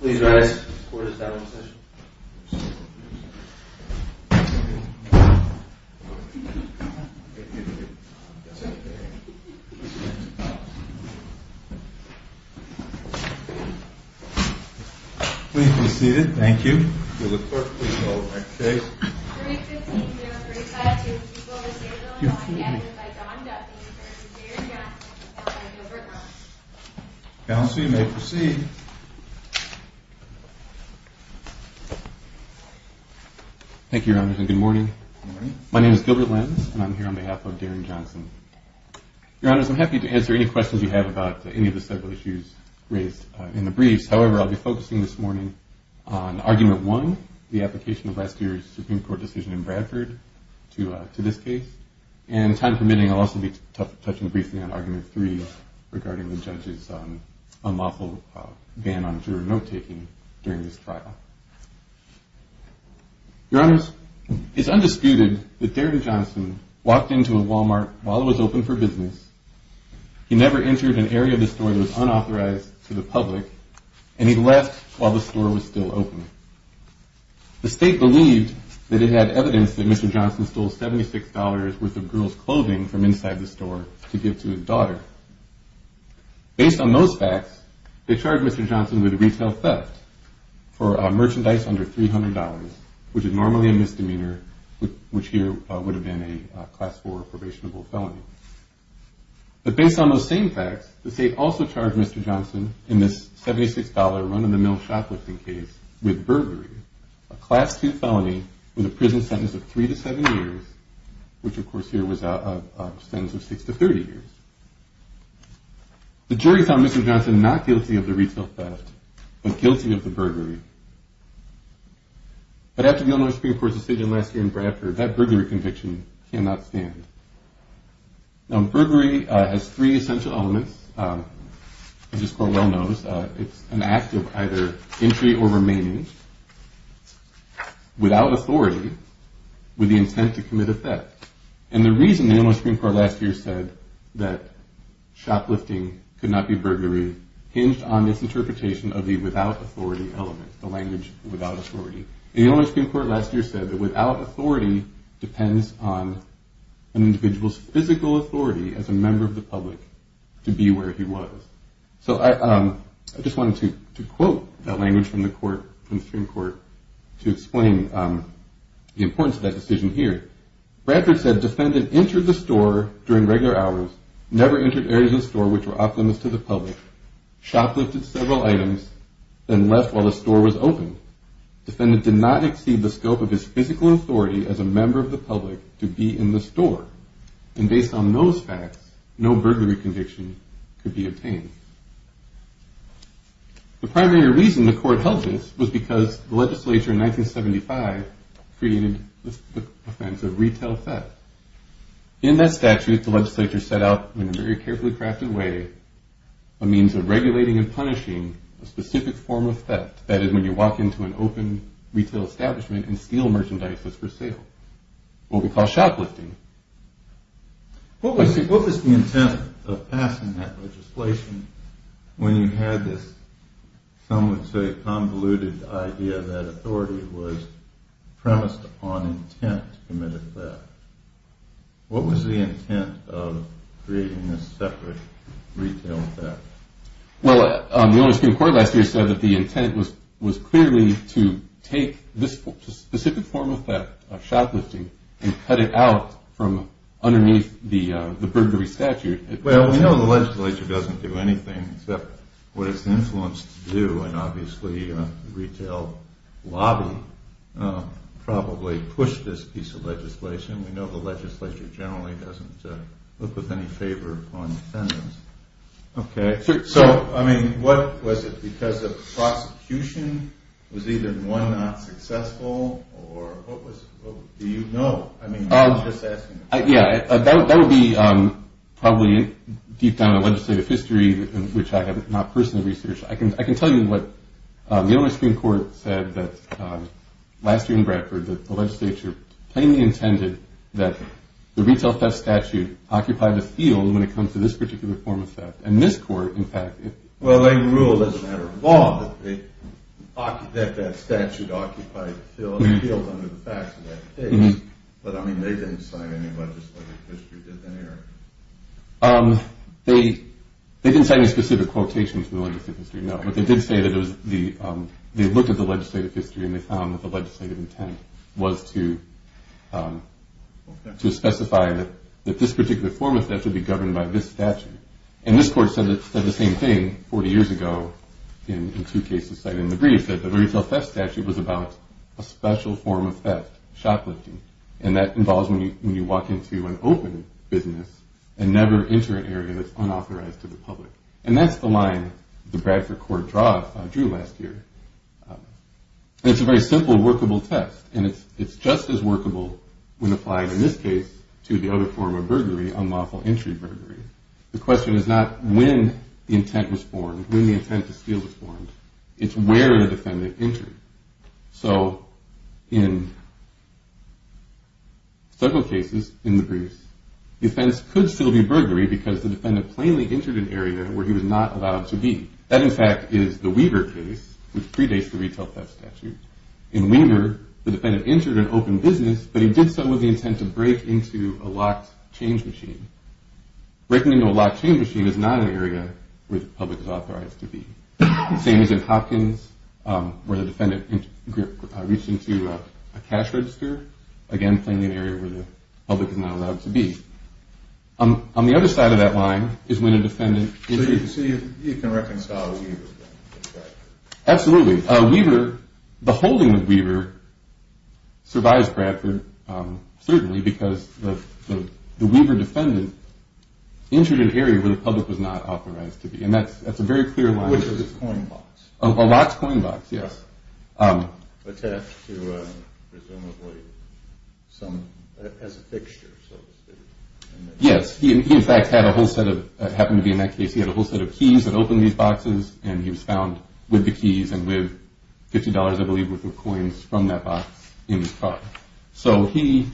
Please rise. The court is now in session. Please be seated. Thank you. Will the court please call the next case? 315-035-2. People with disabilities. Accused by Don Duffy v. Darin Johnson v. Gilbert Lenz. Counsel, you may proceed. Thank you, Your Honor, and good morning. My name is Gilbert Lenz, and I'm here on behalf of Darin Johnson. Your Honor, I'm happy to answer any questions you have about any of the several issues raised in the briefs. However, I'll be focusing this morning on Argument 1, the application of last year's Supreme Court decision in Bradford to this case. And time permitting, I'll also be touching briefly on Argument 3 regarding the judge's unlawful ban on juror note-taking during this trial. Your Honor, it's undisputed that Darin Johnson walked into a Walmart while it was open for business. He never entered an area of the store that was unauthorized to the public, and he left while the store was still open. The state believed that it had evidence that Mr. Johnson stole $76 worth of girls' clothing from inside the store to give to his daughter. Based on those facts, they charged Mr. Johnson with retail theft for merchandise under $300, which is normally a misdemeanor, which here would have been a Class 4 probationable felony. But based on those same facts, the state also charged Mr. Johnson in this $76 run-of-the-mill shoplifting case with burglary, a Class 2 felony with a prison sentence of 3 to 7 years, which of course here was a sentence of 6 to 30 years. The jury found Mr. Johnson not guilty of the retail theft, but guilty of the burglary. But after the Illinois Supreme Court's decision last year in Bradford, that burglary conviction cannot stand. Now, burglary has three essential elements, which this Court well knows. It's an act of either entry or remaining without authority with the intent to commit a theft. And the reason the Illinois Supreme Court last year said that shoplifting could not be burglary hinged on this interpretation of the without authority element, the language without authority. The Illinois Supreme Court last year said that without authority depends on an individual's physical authority as a member of the public to be where he was. So I just wanted to quote that language from the Supreme Court to explain the importance of that decision here. Bradford said, defendant entered the store during regular hours, never entered areas of the store which were optimist to the public, shoplifted several items, then left while the store was open. Defendant did not exceed the scope of his physical authority as a member of the public to be in the store. And based on those facts, no burglary conviction could be obtained. The primary reason the Court held this was because the legislature in 1975 created the offense of retail theft. In that statute, the legislature set out in a very carefully crafted way a means of regulating and punishing a specific form of theft. That is when you walk into an open retail establishment and steal merchandises for sale. What we call shoplifting. What was the intent of passing that legislation when you had this, some would say convoluted idea that authority was premised upon intent to commit a theft? What was the intent of creating this separate retail theft? Well, the only Supreme Court last year said that the intent was clearly to take this specific form of theft, shoplifting, and cut it out from underneath the burglary statute. Well, we know the legislature doesn't do anything except what it's influenced to do, and obviously retail lobby probably pushed this piece of legislation. We know the legislature generally doesn't look with any favor upon defendants. Okay. So, I mean, what was it? Because the prosecution was either one not successful, or what was it? Do you know? I mean, I'm just asking. Yeah, that would be probably deep down in legislative history, which I have not personally researched. I can tell you what the only Supreme Court said that last year in Bradford, that the legislature plainly intended that the retail theft statute occupy the field when it comes to this particular form of theft. And this court, in fact- Well, they ruled as a matter of law that that statute occupied the field under the facts of that case. But, I mean, they didn't say any legislative history, did they? They didn't say any specific quotations in the legislative history, no. Right, but they did say that they looked at the legislative history, and they found that the legislative intent was to specify that this particular form of theft would be governed by this statute. And this court said the same thing 40 years ago in two cases cited in the brief, that the retail theft statute was about a special form of theft, shoplifting, and that involves when you walk into an open business and never enter an area that's unauthorized to the public. And that's the line the Bradford court drew last year. And it's a very simple workable test. And it's just as workable when applied in this case to the other form of burglary, unlawful entry burglary. The question is not when the intent was formed, when the intent to steal was formed. It's where the defendant entered. So in several cases in the briefs, defense could still be burglary because the defendant plainly entered an area where he was not allowed to be. That, in fact, is the Weaver case, which predates the retail theft statute. In Weaver, the defendant entered an open business, but he did so with the intent to break into a locked change machine. Breaking into a locked change machine is not an area where the public is authorized to be. Same as in Hopkins, where the defendant reached into a cash register. Again, plainly an area where the public is not allowed to be. On the other side of that line is when a defendant entered. So you can reconcile Weaver with Bradford? Absolutely. Weaver, the holding of Weaver survives Bradford, certainly, because the Weaver defendant entered an area where the public was not authorized to be. And that's a very clear line. A locked coin box. A locked coin box, yes. Attached to presumably some, as a fixture, so to speak. Yes. He, in fact, had a whole set of, happened to be in that case, he had a whole set of keys that opened these boxes, and he was found with the keys and with $50, I believe, worth of coins from that box in his car. So he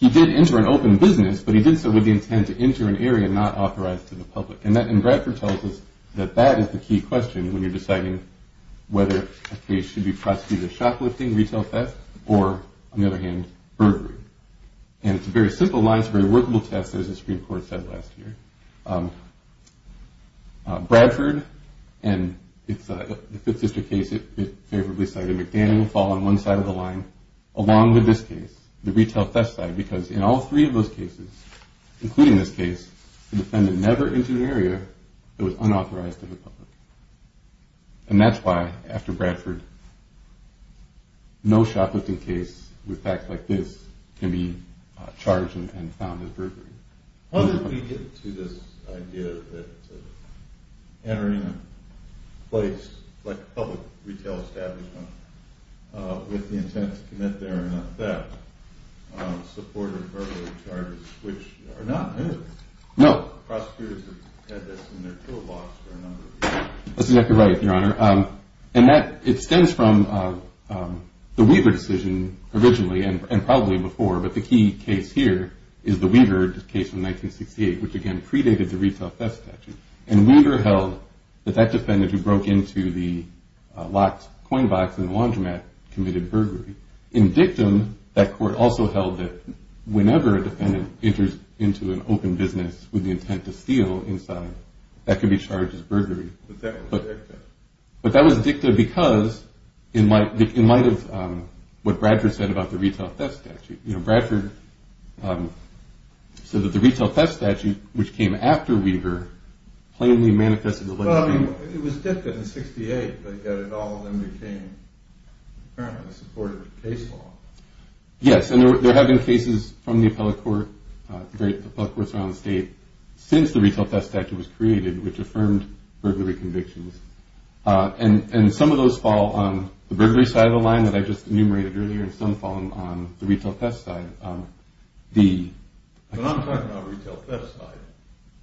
did enter an open business, but he did so with the intent to enter an area not authorized to the public. And Bradford tells us that that is the key question when you're deciding whether a case should be prosecuted as shoplifting, retail theft, or, on the other hand, burglary. And it's a very simple line. It's a very workable test, as the Supreme Court said last year. Bradford and the Fifth District case, it favorably cited. McDaniel will fall on one side of the line along with this case, the retail theft side, because in all three of those cases, including this case, the defendant never entered an area that was unauthorized to the public. And that's why, after Bradford, no shoplifting case with facts like this can be charged and found as burglary. How did we get to this idea that entering a place like a public retail establishment with the intent to commit therein a theft supported burglary charges, which are not in it? No. Prosecutors have had this in their toolbox for a number of years. That's exactly right, Your Honor. And it stems from the Weaver decision originally and probably before, but the key case here is the Weaver case from 1968, which, again, predated the retail theft statute. And Weaver held that that defendant who broke into the locked coin box in the laundromat committed burglary. In dictum, that court also held that whenever a defendant enters into an open business with the intent to steal inside, that could be charged as burglary. But that was dicta. But that was dicta because, in light of what Bradford said about the retail theft statute, you know, Bradford said that the retail theft statute, which came after Weaver, plainly manifested the legislation. Well, I mean, it was dicta in 1968, but yet it all then became, apparently, supported case law. Yes, and there have been cases from the appellate courts around the state since the retail theft statute was created, which affirmed burglary convictions. And some of those fall on the burglary side of the line that I just enumerated earlier, and some fall on the retail theft side. But I'm talking about the retail theft side.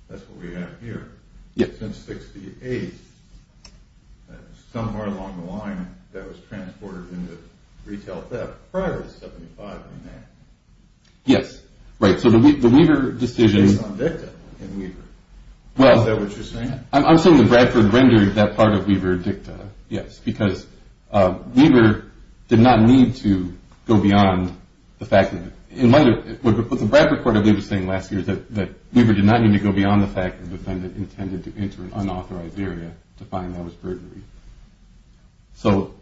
That's what we have here. Since 1968, somewhere along the line, that was transported into retail theft prior to 75 and that. Yes, right. So the Weaver decision. Based on dicta in Weaver. Is that what you're saying? I'm saying that Bradford rendered that part of Weaver dicta, yes, because Weaver did not need to go beyond the fact that, in light of what the Bradford court I believe was saying last year, that Weaver did not need to go beyond the fact that the defendant intended to enter an unauthorized area to find that was burglary. So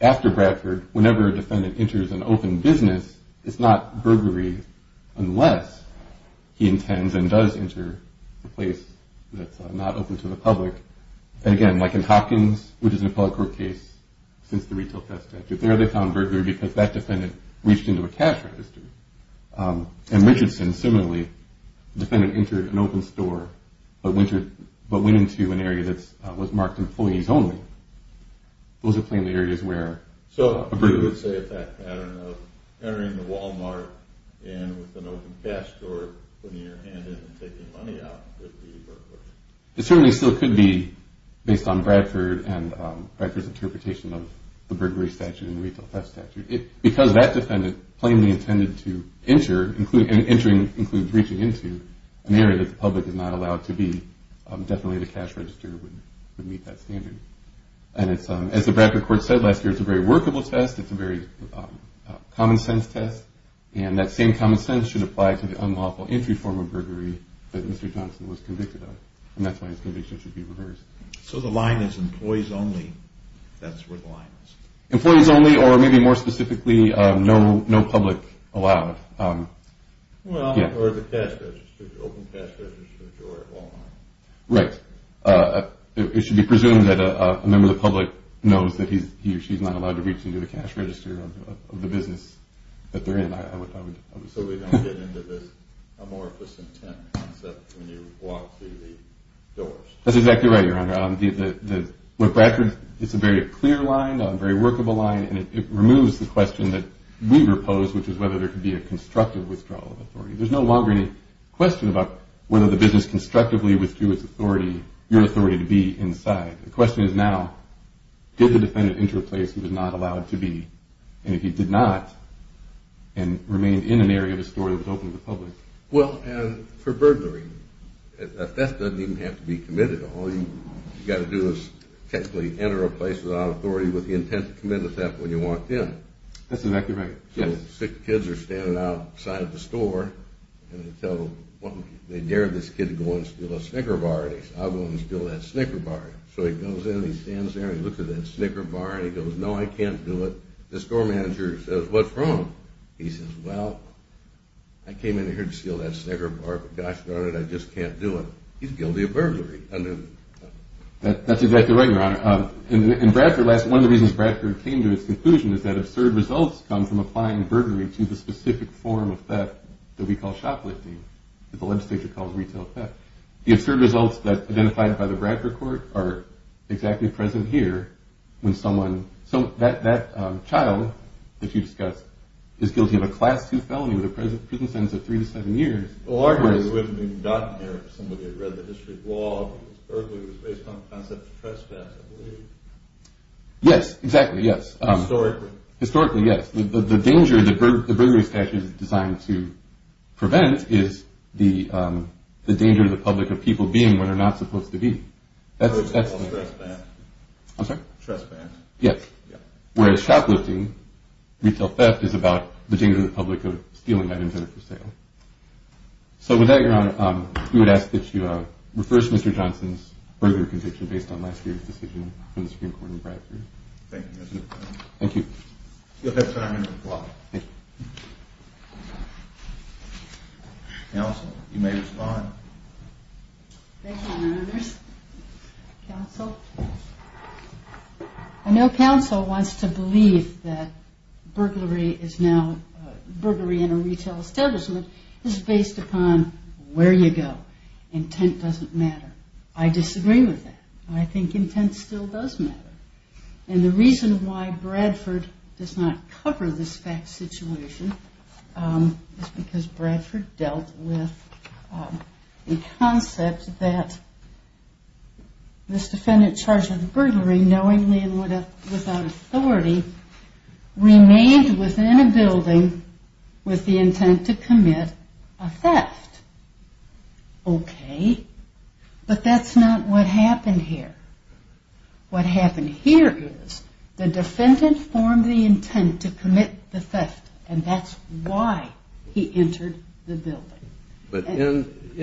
after Bradford, whenever a defendant enters an open business, it's not burglary unless he intends and does enter a place that's not open to the public. And, again, like in Hopkins, which is an appellate court case since the retail theft statute, there they found burglary because that defendant reached into a cash register. And Richardson, similarly, the defendant entered an open store but went into an area that was marked employees only. Those are plainly areas where a burglary. So you would say that that pattern of entering the Wal-Mart and with an open cash store, putting your hand in and taking money out could be burglary. It certainly still could be based on Bradford and Bradford's interpretation of the burglary statute and the retail theft statute. Because that defendant plainly intended to enter and entering includes reaching into an area that the public is not allowed to be, definitely the cash register would meet that standard. And as the Bradford court said last year, it's a very workable test. It's a very common sense test. And that same common sense should apply to the unlawful entry form of burglary that Mr. Johnson was convicted of. And that's why his conviction should be reversed. So the line is employees only. That's where the line is. Employees only or maybe more specifically no public allowed. Well, or the cash register, the open cash register at Wal-Mart. Right. It should be presumed that a member of the public knows that he or she is not allowed to reach into the cash register of the business that they're in. So we don't get into this amorphous intent concept when you walk through the doors. That's exactly right, Your Honor. With Bradford, it's a very clear line, a very workable line, and it removes the question that we repose, which is whether there could be a constructive withdrawal of authority. There's no longer any question about whether the business constructively withdrew its authority, your authority to be inside. The question is now, did the defendant enter a place he was not allowed to be? And if he did not and remained in an area of the store that was open to the public? Well, and for burglary, a theft doesn't even have to be committed. All you've got to do is technically enter a place without authority with the intent to commit the theft when you walked in. That's exactly right. So six kids are standing outside the store, and they dare this kid to go and steal a Snicker bar, and he says, I'll go and steal that Snicker bar. So he goes in and he stands there and he looks at that Snicker bar and he goes, no, I can't do it. The store manager says, what's wrong? He says, well, I came in here to steal that Snicker bar, but gosh darn it, I just can't do it. He's guilty of burglary. That's exactly right, Your Honor. And Bradford, one of the reasons Bradford came to its conclusion is that absurd results come from applying burglary to the specific form of theft that we call shoplifting, that the legislature calls retail theft. The absurd results that are identified by the Bradford court are exactly present here when someone, that child that you discussed, is guilty of a Class II felony with a prison sentence of three to seven years. Largely it wouldn't have been gotten there if somebody had read the history of law, because burglary was based on the concept of trespass, I believe. Yes, exactly, yes. Historically. Historically, yes. The danger that the burglary statute is designed to prevent is the danger to the public of people being where they're not supposed to be. That's trespass. I'm sorry? Trespass. Yes. Whereas shoplifting, retail theft, is about the danger to the public of stealing items that are for sale. So with that, Your Honor, we would ask that you reverse Mr. Johnson's further conviction based on last year's decision from the Supreme Court in Bradford. Thank you, Mr. Chairman. Thank you. You have five minutes left. Counsel, you may respond. Thank you, Your Honors. Counsel? I know counsel wants to believe that burglary in a retail establishment is based upon where you go. Intent doesn't matter. I disagree with that. I think intent still does matter. And the reason why Bradford does not cover this fact situation is because Bradford dealt with the concept that this defendant charged with burglary knowingly and without authority remained within a building with the intent to commit a theft. Okay. But that's not what happened here. What happened here is the defendant formed the intent to commit the theft, and that's why he entered the building.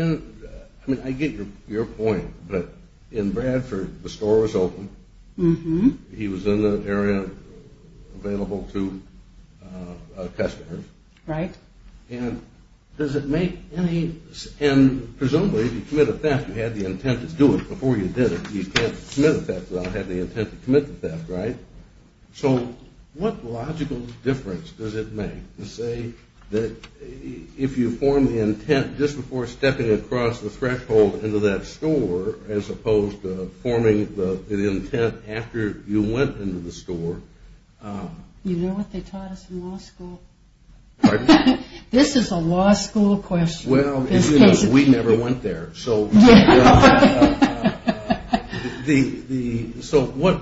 I mean, I get your point, but in Bradford, the store was open. He was in the area available to customers. Right. And does it make any – and presumably, if you commit a theft, you had the intent to do it before you did it. You can't commit a theft without having the intent to commit the theft, right? So what logical difference does it make to say that if you form the intent just before stepping across the threshold into that store as opposed to forming the intent after you went into the store? You know what they taught us in law school? Pardon? This is a law school question. Well, we never went there. So what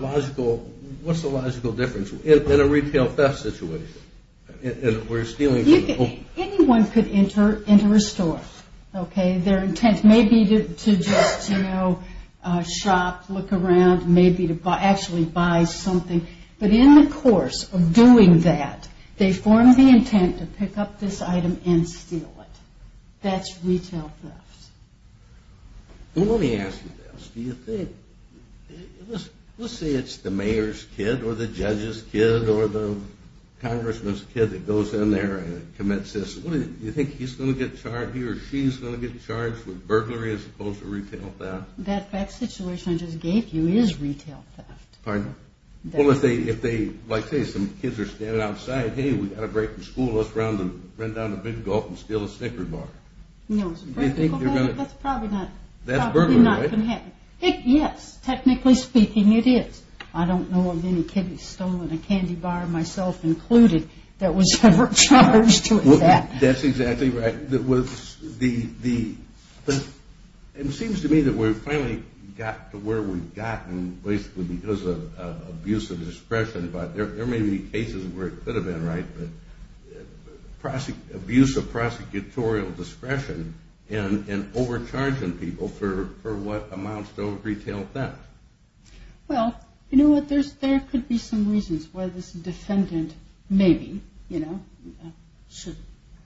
logical – what's the logical difference in a retail theft situation? Anyone could enter a store, okay? Their intent may be to just, you know, shop, look around, maybe to actually buy something. But in the course of doing that, they form the intent to pick up this item and steal it. That's retail theft. Let me ask you this. Do you think – let's say it's the mayor's kid or the judge's kid or the congressman's kid that goes in there and commits this. Do you think he's going to get charged here or she's going to get charged with burglary as opposed to retail theft? That situation I just gave you is retail theft. Pardon? Well, if they – like, say, some kids are standing outside. Hey, we got a break from school. Let's run down to Big Gulf and steal a Snickers bar. No, that's probably not going to happen. Yes, technically speaking, it is. I don't know of any kid that's stolen a candy bar, myself included, that was ever charged with that. That's exactly right. It seems to me that we've finally got to where we've gotten basically because of abuse of discretion. But there may be cases where it could have been, right, but abuse of prosecutorial discretion and overcharging people for what amounts to retail theft. Well, you know what? There could be some reasons why this defendant maybe should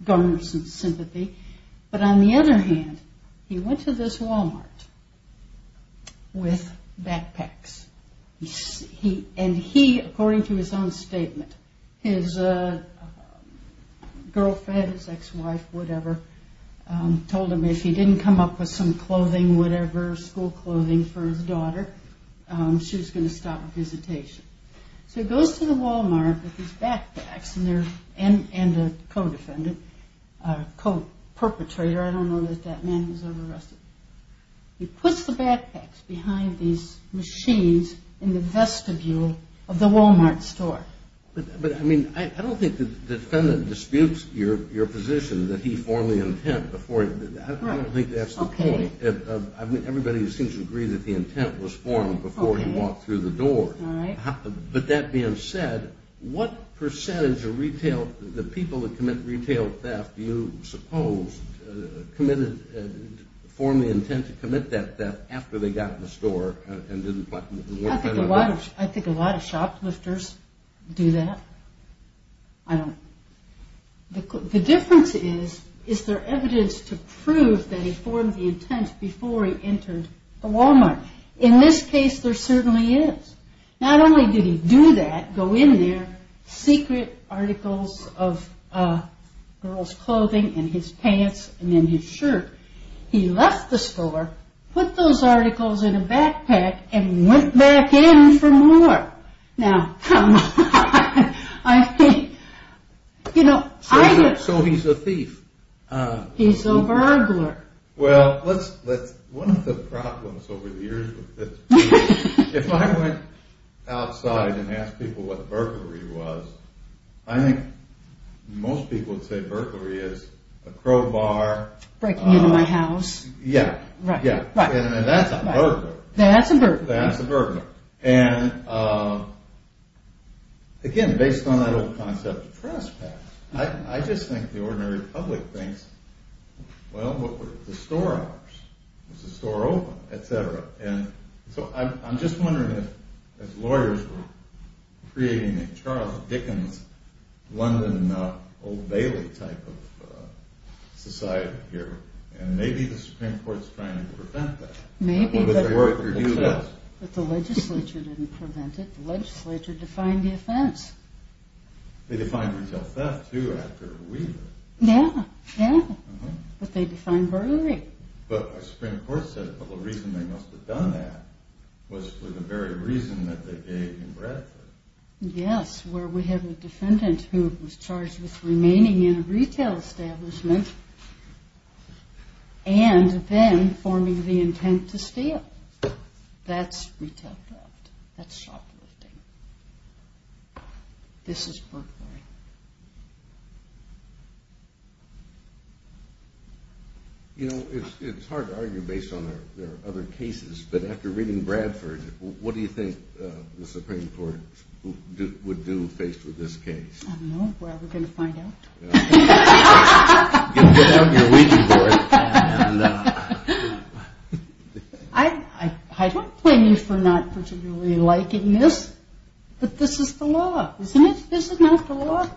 garner some sympathy. But on the other hand, he went to this Walmart with backpacks. And he, according to his own statement, his girlfriend, his ex-wife, whatever, told him if he didn't come up with some clothing, whatever, school clothing for his daughter, she was going to stop a visitation. So he goes to the Walmart with his backpacks and a co-defendant, a co-perpetrator. I don't know that that man was ever arrested. He puts the backpacks behind these machines in the vestibule of the Walmart store. But, I mean, I don't think the defendant disputes your position that he formed the intent before. I don't think that's the point. I mean, everybody seems to agree that the intent was formed before he walked through the door. But that being said, what percentage of retail, the people that commit retail theft, do you suppose committed, formed the intent to commit that theft after they got in the store? I think a lot of shoplifters do that. I don't... The difference is, is there evidence to prove that he formed the intent before he entered the Walmart? In this case, there certainly is. Not only did he do that, go in there, secret articles of girls' clothing in his pants and in his shirt, he left the store, put those articles in a backpack, and went back in for more. Now, come on. I mean, you know, I... So he's a thief. He's a burglar. Well, let's... One of the problems over the years with this... If I went outside and asked people what burglary was, I think most people would say burglary is a crowbar... Breaking into my house. Yeah. Right. And that's a burglar. That's a burglar. That's a burglar. And, again, based on that old concept of trespass, I just think the ordinary public thinks, well, what were the store hours? Was the store open? Et cetera. And so I'm just wondering if, as lawyers, we're creating a Charles Dickens, London, Old Bailey type of society here, and maybe the Supreme Court's trying to prevent that. Maybe, but the legislature didn't prevent it. The legislature defined the offense. They defined retail theft, too, after Weaver. Yeah. Yeah. But they defined burglary. But the Supreme Court said the whole reason they must have done that was for the very reason that they gave in Bradford. Yes, where we have a defendant who was charged with remaining in a retail establishment and then forming the intent to steal. That's retail theft. That's shoplifting. This is burglary. You know, it's hard to argue based on there are other cases, but after reading Bradford, what do you think the Supreme Court would do faced with this case? I don't know. We're going to find out. You'll get out your reading board. I don't blame you for not particularly liking this, but this is the law. Isn't it? This is not the law.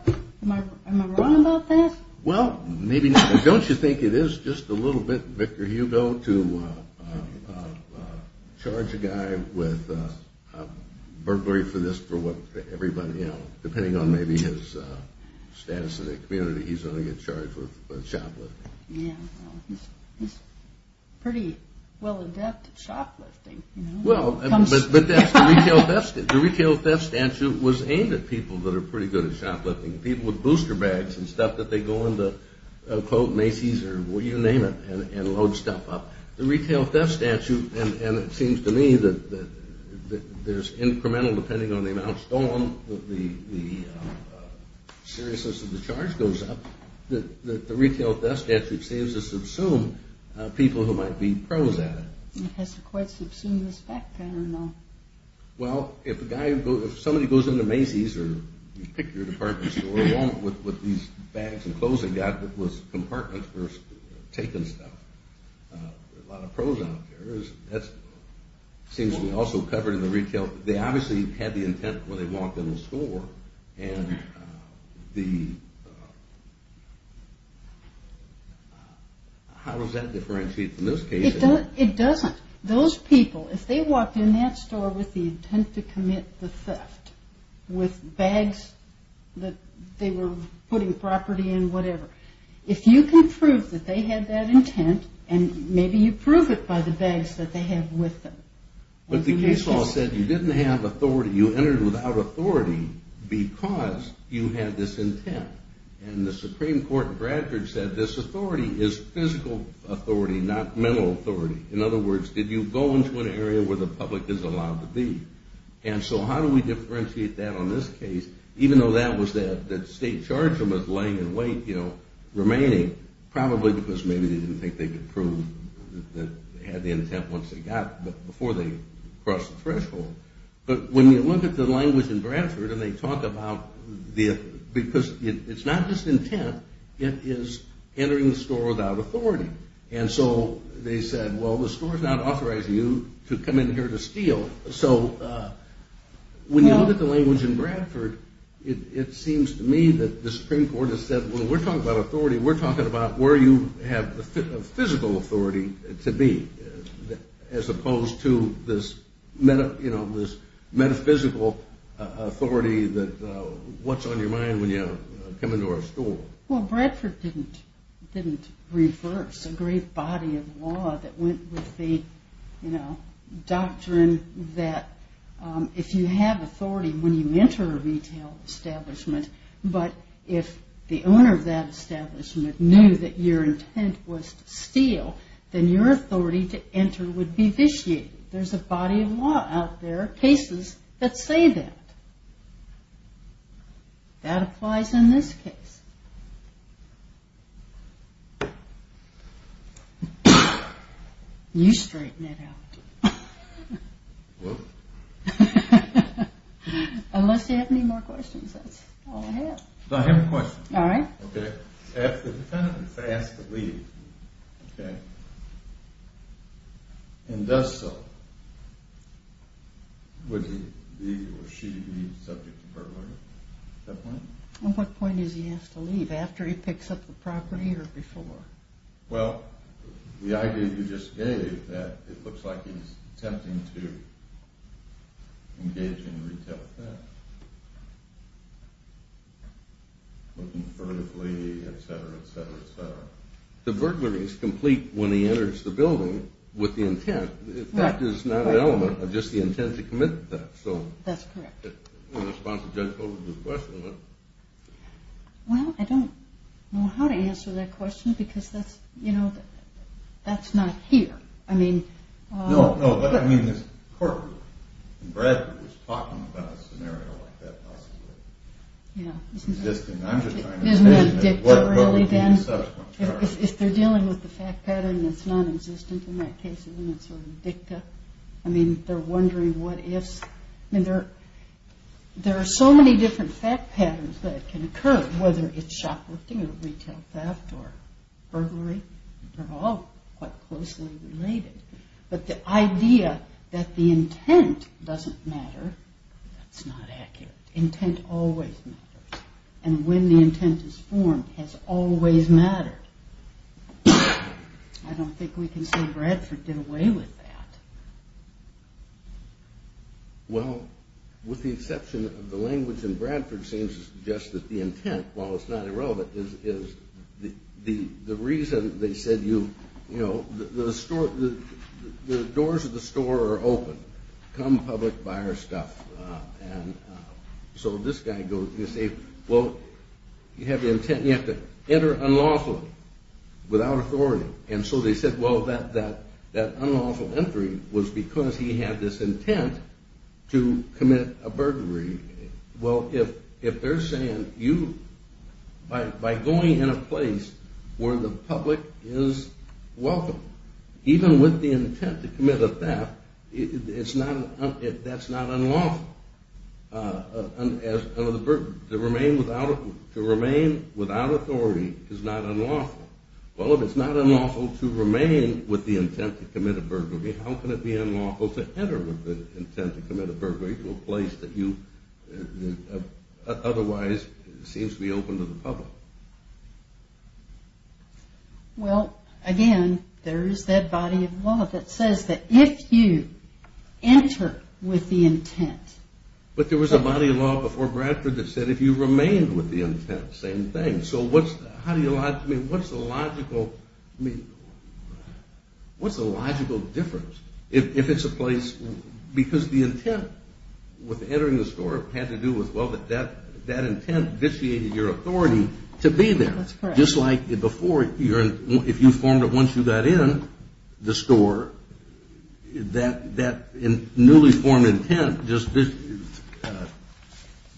Am I wrong about that? Well, maybe not, but don't you think it is just a little bit Victor Hugo to charge a guy with burglary for this for what everybody else, depending on maybe his status in the community, he's going to get charged with shoplifting. Yeah. He's pretty well adept at shoplifting. Well, but the retail theft statute was aimed at people that are pretty good at shoplifting, people with booster bags and stuff that they go into, quote, Macy's or you name it, and load stuff up. The retail theft statute, and it seems to me that there's incremental, depending on the amount stolen, the seriousness of the charge goes up, that the retail theft statute saves us of some people who might be pros at it. It has a quite substantive effect, I don't know. Well, if somebody goes into Macy's or you pick your department store along with these bags and clothes they've got that was compartments for taking stuff, there are a lot of pros out there. That seems to me also covered in the retail. They obviously had the intent when they walked in the store, and how does that differentiate from this case? It doesn't. Those people, if they walked in that store with the intent to commit the theft, with bags that they were putting property in, whatever, if you can prove that they had that intent, and maybe you prove it by the bags that they had with them. But the case law said you didn't have authority, you entered without authority because you had this intent. And the Supreme Court in Bradford said this authority is physical authority, not mental authority. In other words, did you go into an area where the public is allowed to be? And so how do we differentiate that on this case, even though that was that state charge that was laying in wait, you know, remaining, probably because maybe they didn't think they could prove that they had the intent once they got, but before they crossed the threshold. But when you look at the language in Bradford, and they talk about the, because it's not just intent, it is entering the store without authority. And so they said, well, the store's not authorizing you to come in here to steal. So when you look at the language in Bradford, it seems to me that the Supreme Court has said, well, we're talking about authority, we're talking about where you have the physical authority to be, as opposed to this metaphysical authority that what's on your mind when you come into our store. Well, Bradford didn't reverse a great body of law that went with the, you know, doctrine that if you have authority when you enter a retail establishment, but if the owner of that establishment knew that your intent was to steal, then your authority to enter would be vitiated. There's a body of law out there, cases that say that. That applies in this case. You straighten it out. Whoops. Unless you have any more questions, that's all I have. I have a question. All right. Okay. If the defendant is asked to leave, okay, and does so, would he be or should he be subject to burglary at that point? At what point is he asked to leave, after he picks up the property or before? Well, the idea you just gave that it looks like he's attempting to engage in retail theft, looking furtively, et cetera, et cetera, et cetera. The burglary is complete when he enters the building with the intent. In fact, it's not an element of just the intent to commit the theft. That's correct. In response to Judge Hogan's question. Well, I don't know how to answer that question because that's, you know, that's not here. I mean. No, no. But, I mean, this court in Bradford was talking about a scenario like that possibly. Yeah. I'm just trying to understand. Isn't that dicta really then? What would be the subsequent charge? If they're dealing with the fact pattern that's non-existent in that case, isn't it sort of dicta? I mean, they're wondering what ifs. I mean, there are so many different fact patterns that can occur, whether it's shoplifting or retail theft or burglary. They're all quite closely related. But the idea that the intent doesn't matter, that's not accurate. Intent always matters. And when the intent is formed has always mattered. I don't think we can say Bradford did away with that. Well, with the exception of the language in Bradford seems to suggest that the intent, while it's not irrelevant, is the reason they said you, you know, the store, the doors of the store are open. Come public, buy our stuff. And so this guy goes, you say, well, you have the intent, you have to enter unlawfully, without authority. And so they said, well, that unlawful entry was because he had this intent to commit a burglary. Well, if they're saying you, by going in a place where the public is welcome, even with the intent to commit a theft, that's not unlawful. To remain without authority is not unlawful. Well, if it's not unlawful to remain with the intent to commit a burglary, how can it be unlawful to enter with the intent to commit a burglary to a place that you otherwise seems to be open to the public? Well, again, there's that body of law that says that if you enter with the intent... But there was a body of law before Bradford that said if you remain with the intent, same thing. So what's the logical difference if it's a place... Because the intent with entering the store had to do with, well, that intent vitiated your authority to be there. That's correct. Just like before, if you formed it once you got in the store, that newly formed intent just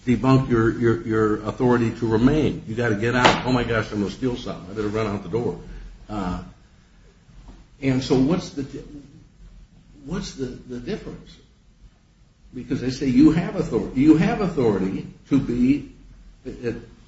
debunked your authority to remain. You've got to get out. Oh my gosh, I'm going to steal something. I better run out the door. And so what's the difference? Because they say you have authority to be...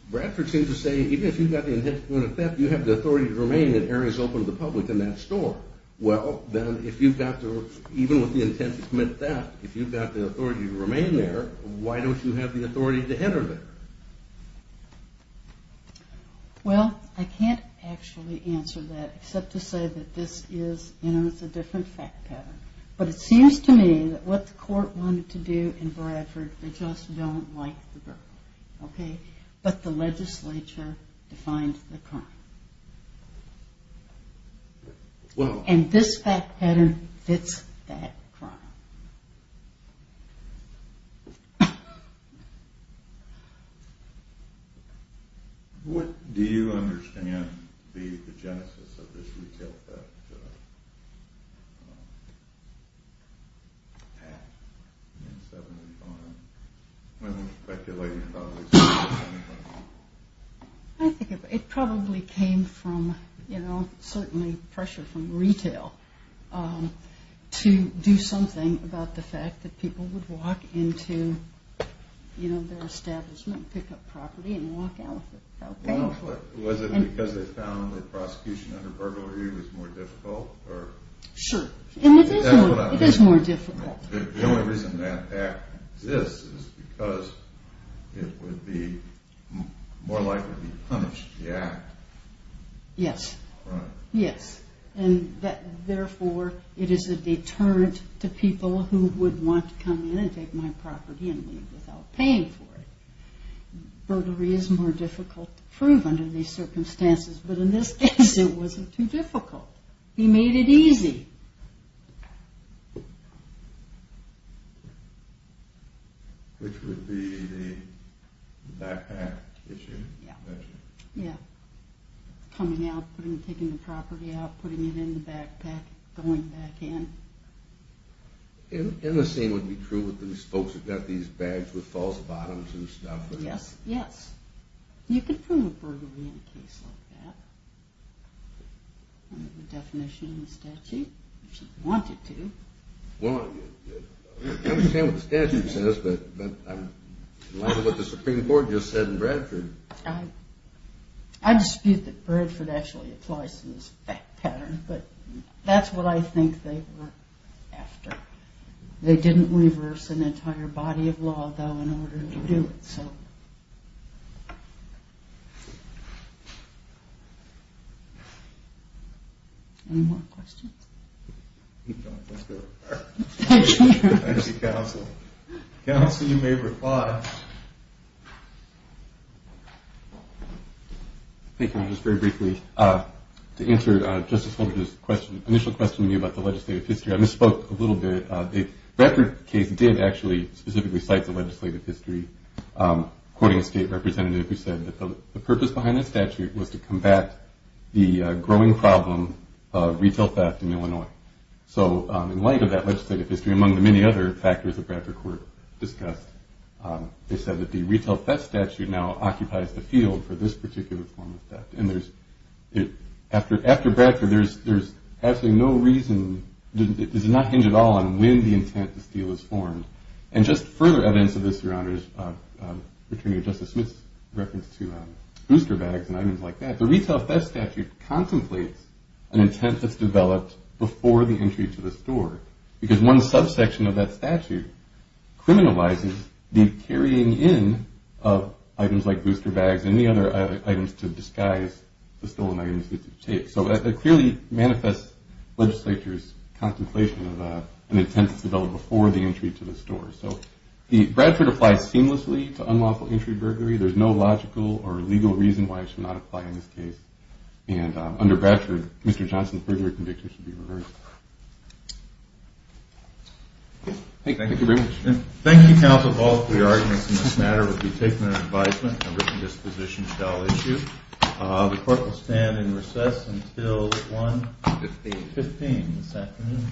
Bradford seems to say even if you've got the intent to commit a theft, you have the authority to remain in areas open to the public in that store. Well, then, if you've got the... Even with the intent to commit a theft, if you've got the authority to remain there, why don't you have the authority to enter there? Well, I can't actually answer that except to say that this is, you know, it's a different fact pattern. But it seems to me that what the court wanted to do in Bradford, they just don't like the burglary, okay? But the legislature defined the crime. And this fact pattern fits that crime. What do you understand be the genesis of this retail theft act in 75? I'm speculating probably 75. I think it probably came from, you know, certainly pressure from retail to do something about the fact that people would walk into, you know, their establishment, pick up property, and walk out of it. Was it because they found that prosecution under burglary was more difficult? Sure. It is more difficult. The only reason that act exists is because it would be more likely to be punished, the act. Yes. Yes. And therefore, it is a deterrent to people who would want to come in and take my property and leave without paying for it. Burglary is more difficult to prove under these circumstances. But in this case, it wasn't too difficult. He made it easy. Which would be the backpack issue? Yeah. Yeah. Coming out, taking the property out, putting it in the backpack, going back in. And the same would be true with these folks who've got these bags with false bottoms and stuff. Yes. Yes. You could prove a burglary in a case like that. The definition in the statute, if you wanted to. Well, I understand what the statute says, but I'm in line with what the Supreme Court just said in Bradford. I dispute that Bradford actually applies to this pattern, but that's what I think they were after. They didn't reverse an entire body of law, though, in order to do it. Any more questions? No, that's good. Thank you. Thank you, counsel. Counsel, you may reply. Thank you. Just very briefly, to answer Justice Holder's initial question to me about the legislative history, I misspoke a little bit. The Bradford case did actually specifically cite the legislative history, quoting a state representative who said that the purpose behind that statute was to combat the growing problem of retail theft in Illinois. So in light of that legislative history, among the many other factors that Bradford Court discussed, they said that the retail theft statute now occupies the field for this particular form of theft. After Bradford, there's absolutely no reason, it does not hinge at all on when the intent to steal was formed. And just further evidence of this, Your Honors, returning to Justice Smith's reference to booster bags and items like that, the retail theft statute contemplates an intent that's developed before the entry to the store, because one subsection of that statute criminalizes the carrying in of items like booster bags and any other items to disguise the stolen items that you take. So it clearly manifests legislature's contemplation of an intent that's developed before the entry to the store. So Bradford applies seamlessly to unlawful entry burglary. There's no logical or legal reason why it should not apply in this case. And under Bradford, Mr. Johnson's burglary conviction should be reversed. Thank you very much. Thank you, Counsel. Both of your arguments in this matter will be taken under advisement and written disposition shall issue. The court will stand in recess until 1 p.m. this afternoon.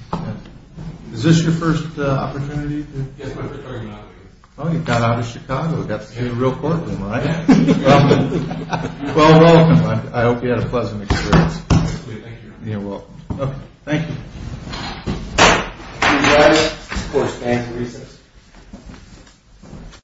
Is this your first opportunity? Yes, my first time out here. Oh, you got out of Chicago, got to see the real courtroom, right? Well, welcome. I hope you had a pleasant experience. Thank you, Your Honor. You're welcome. Okay, thank you. Thank you, Your Honor. The court stands in recess.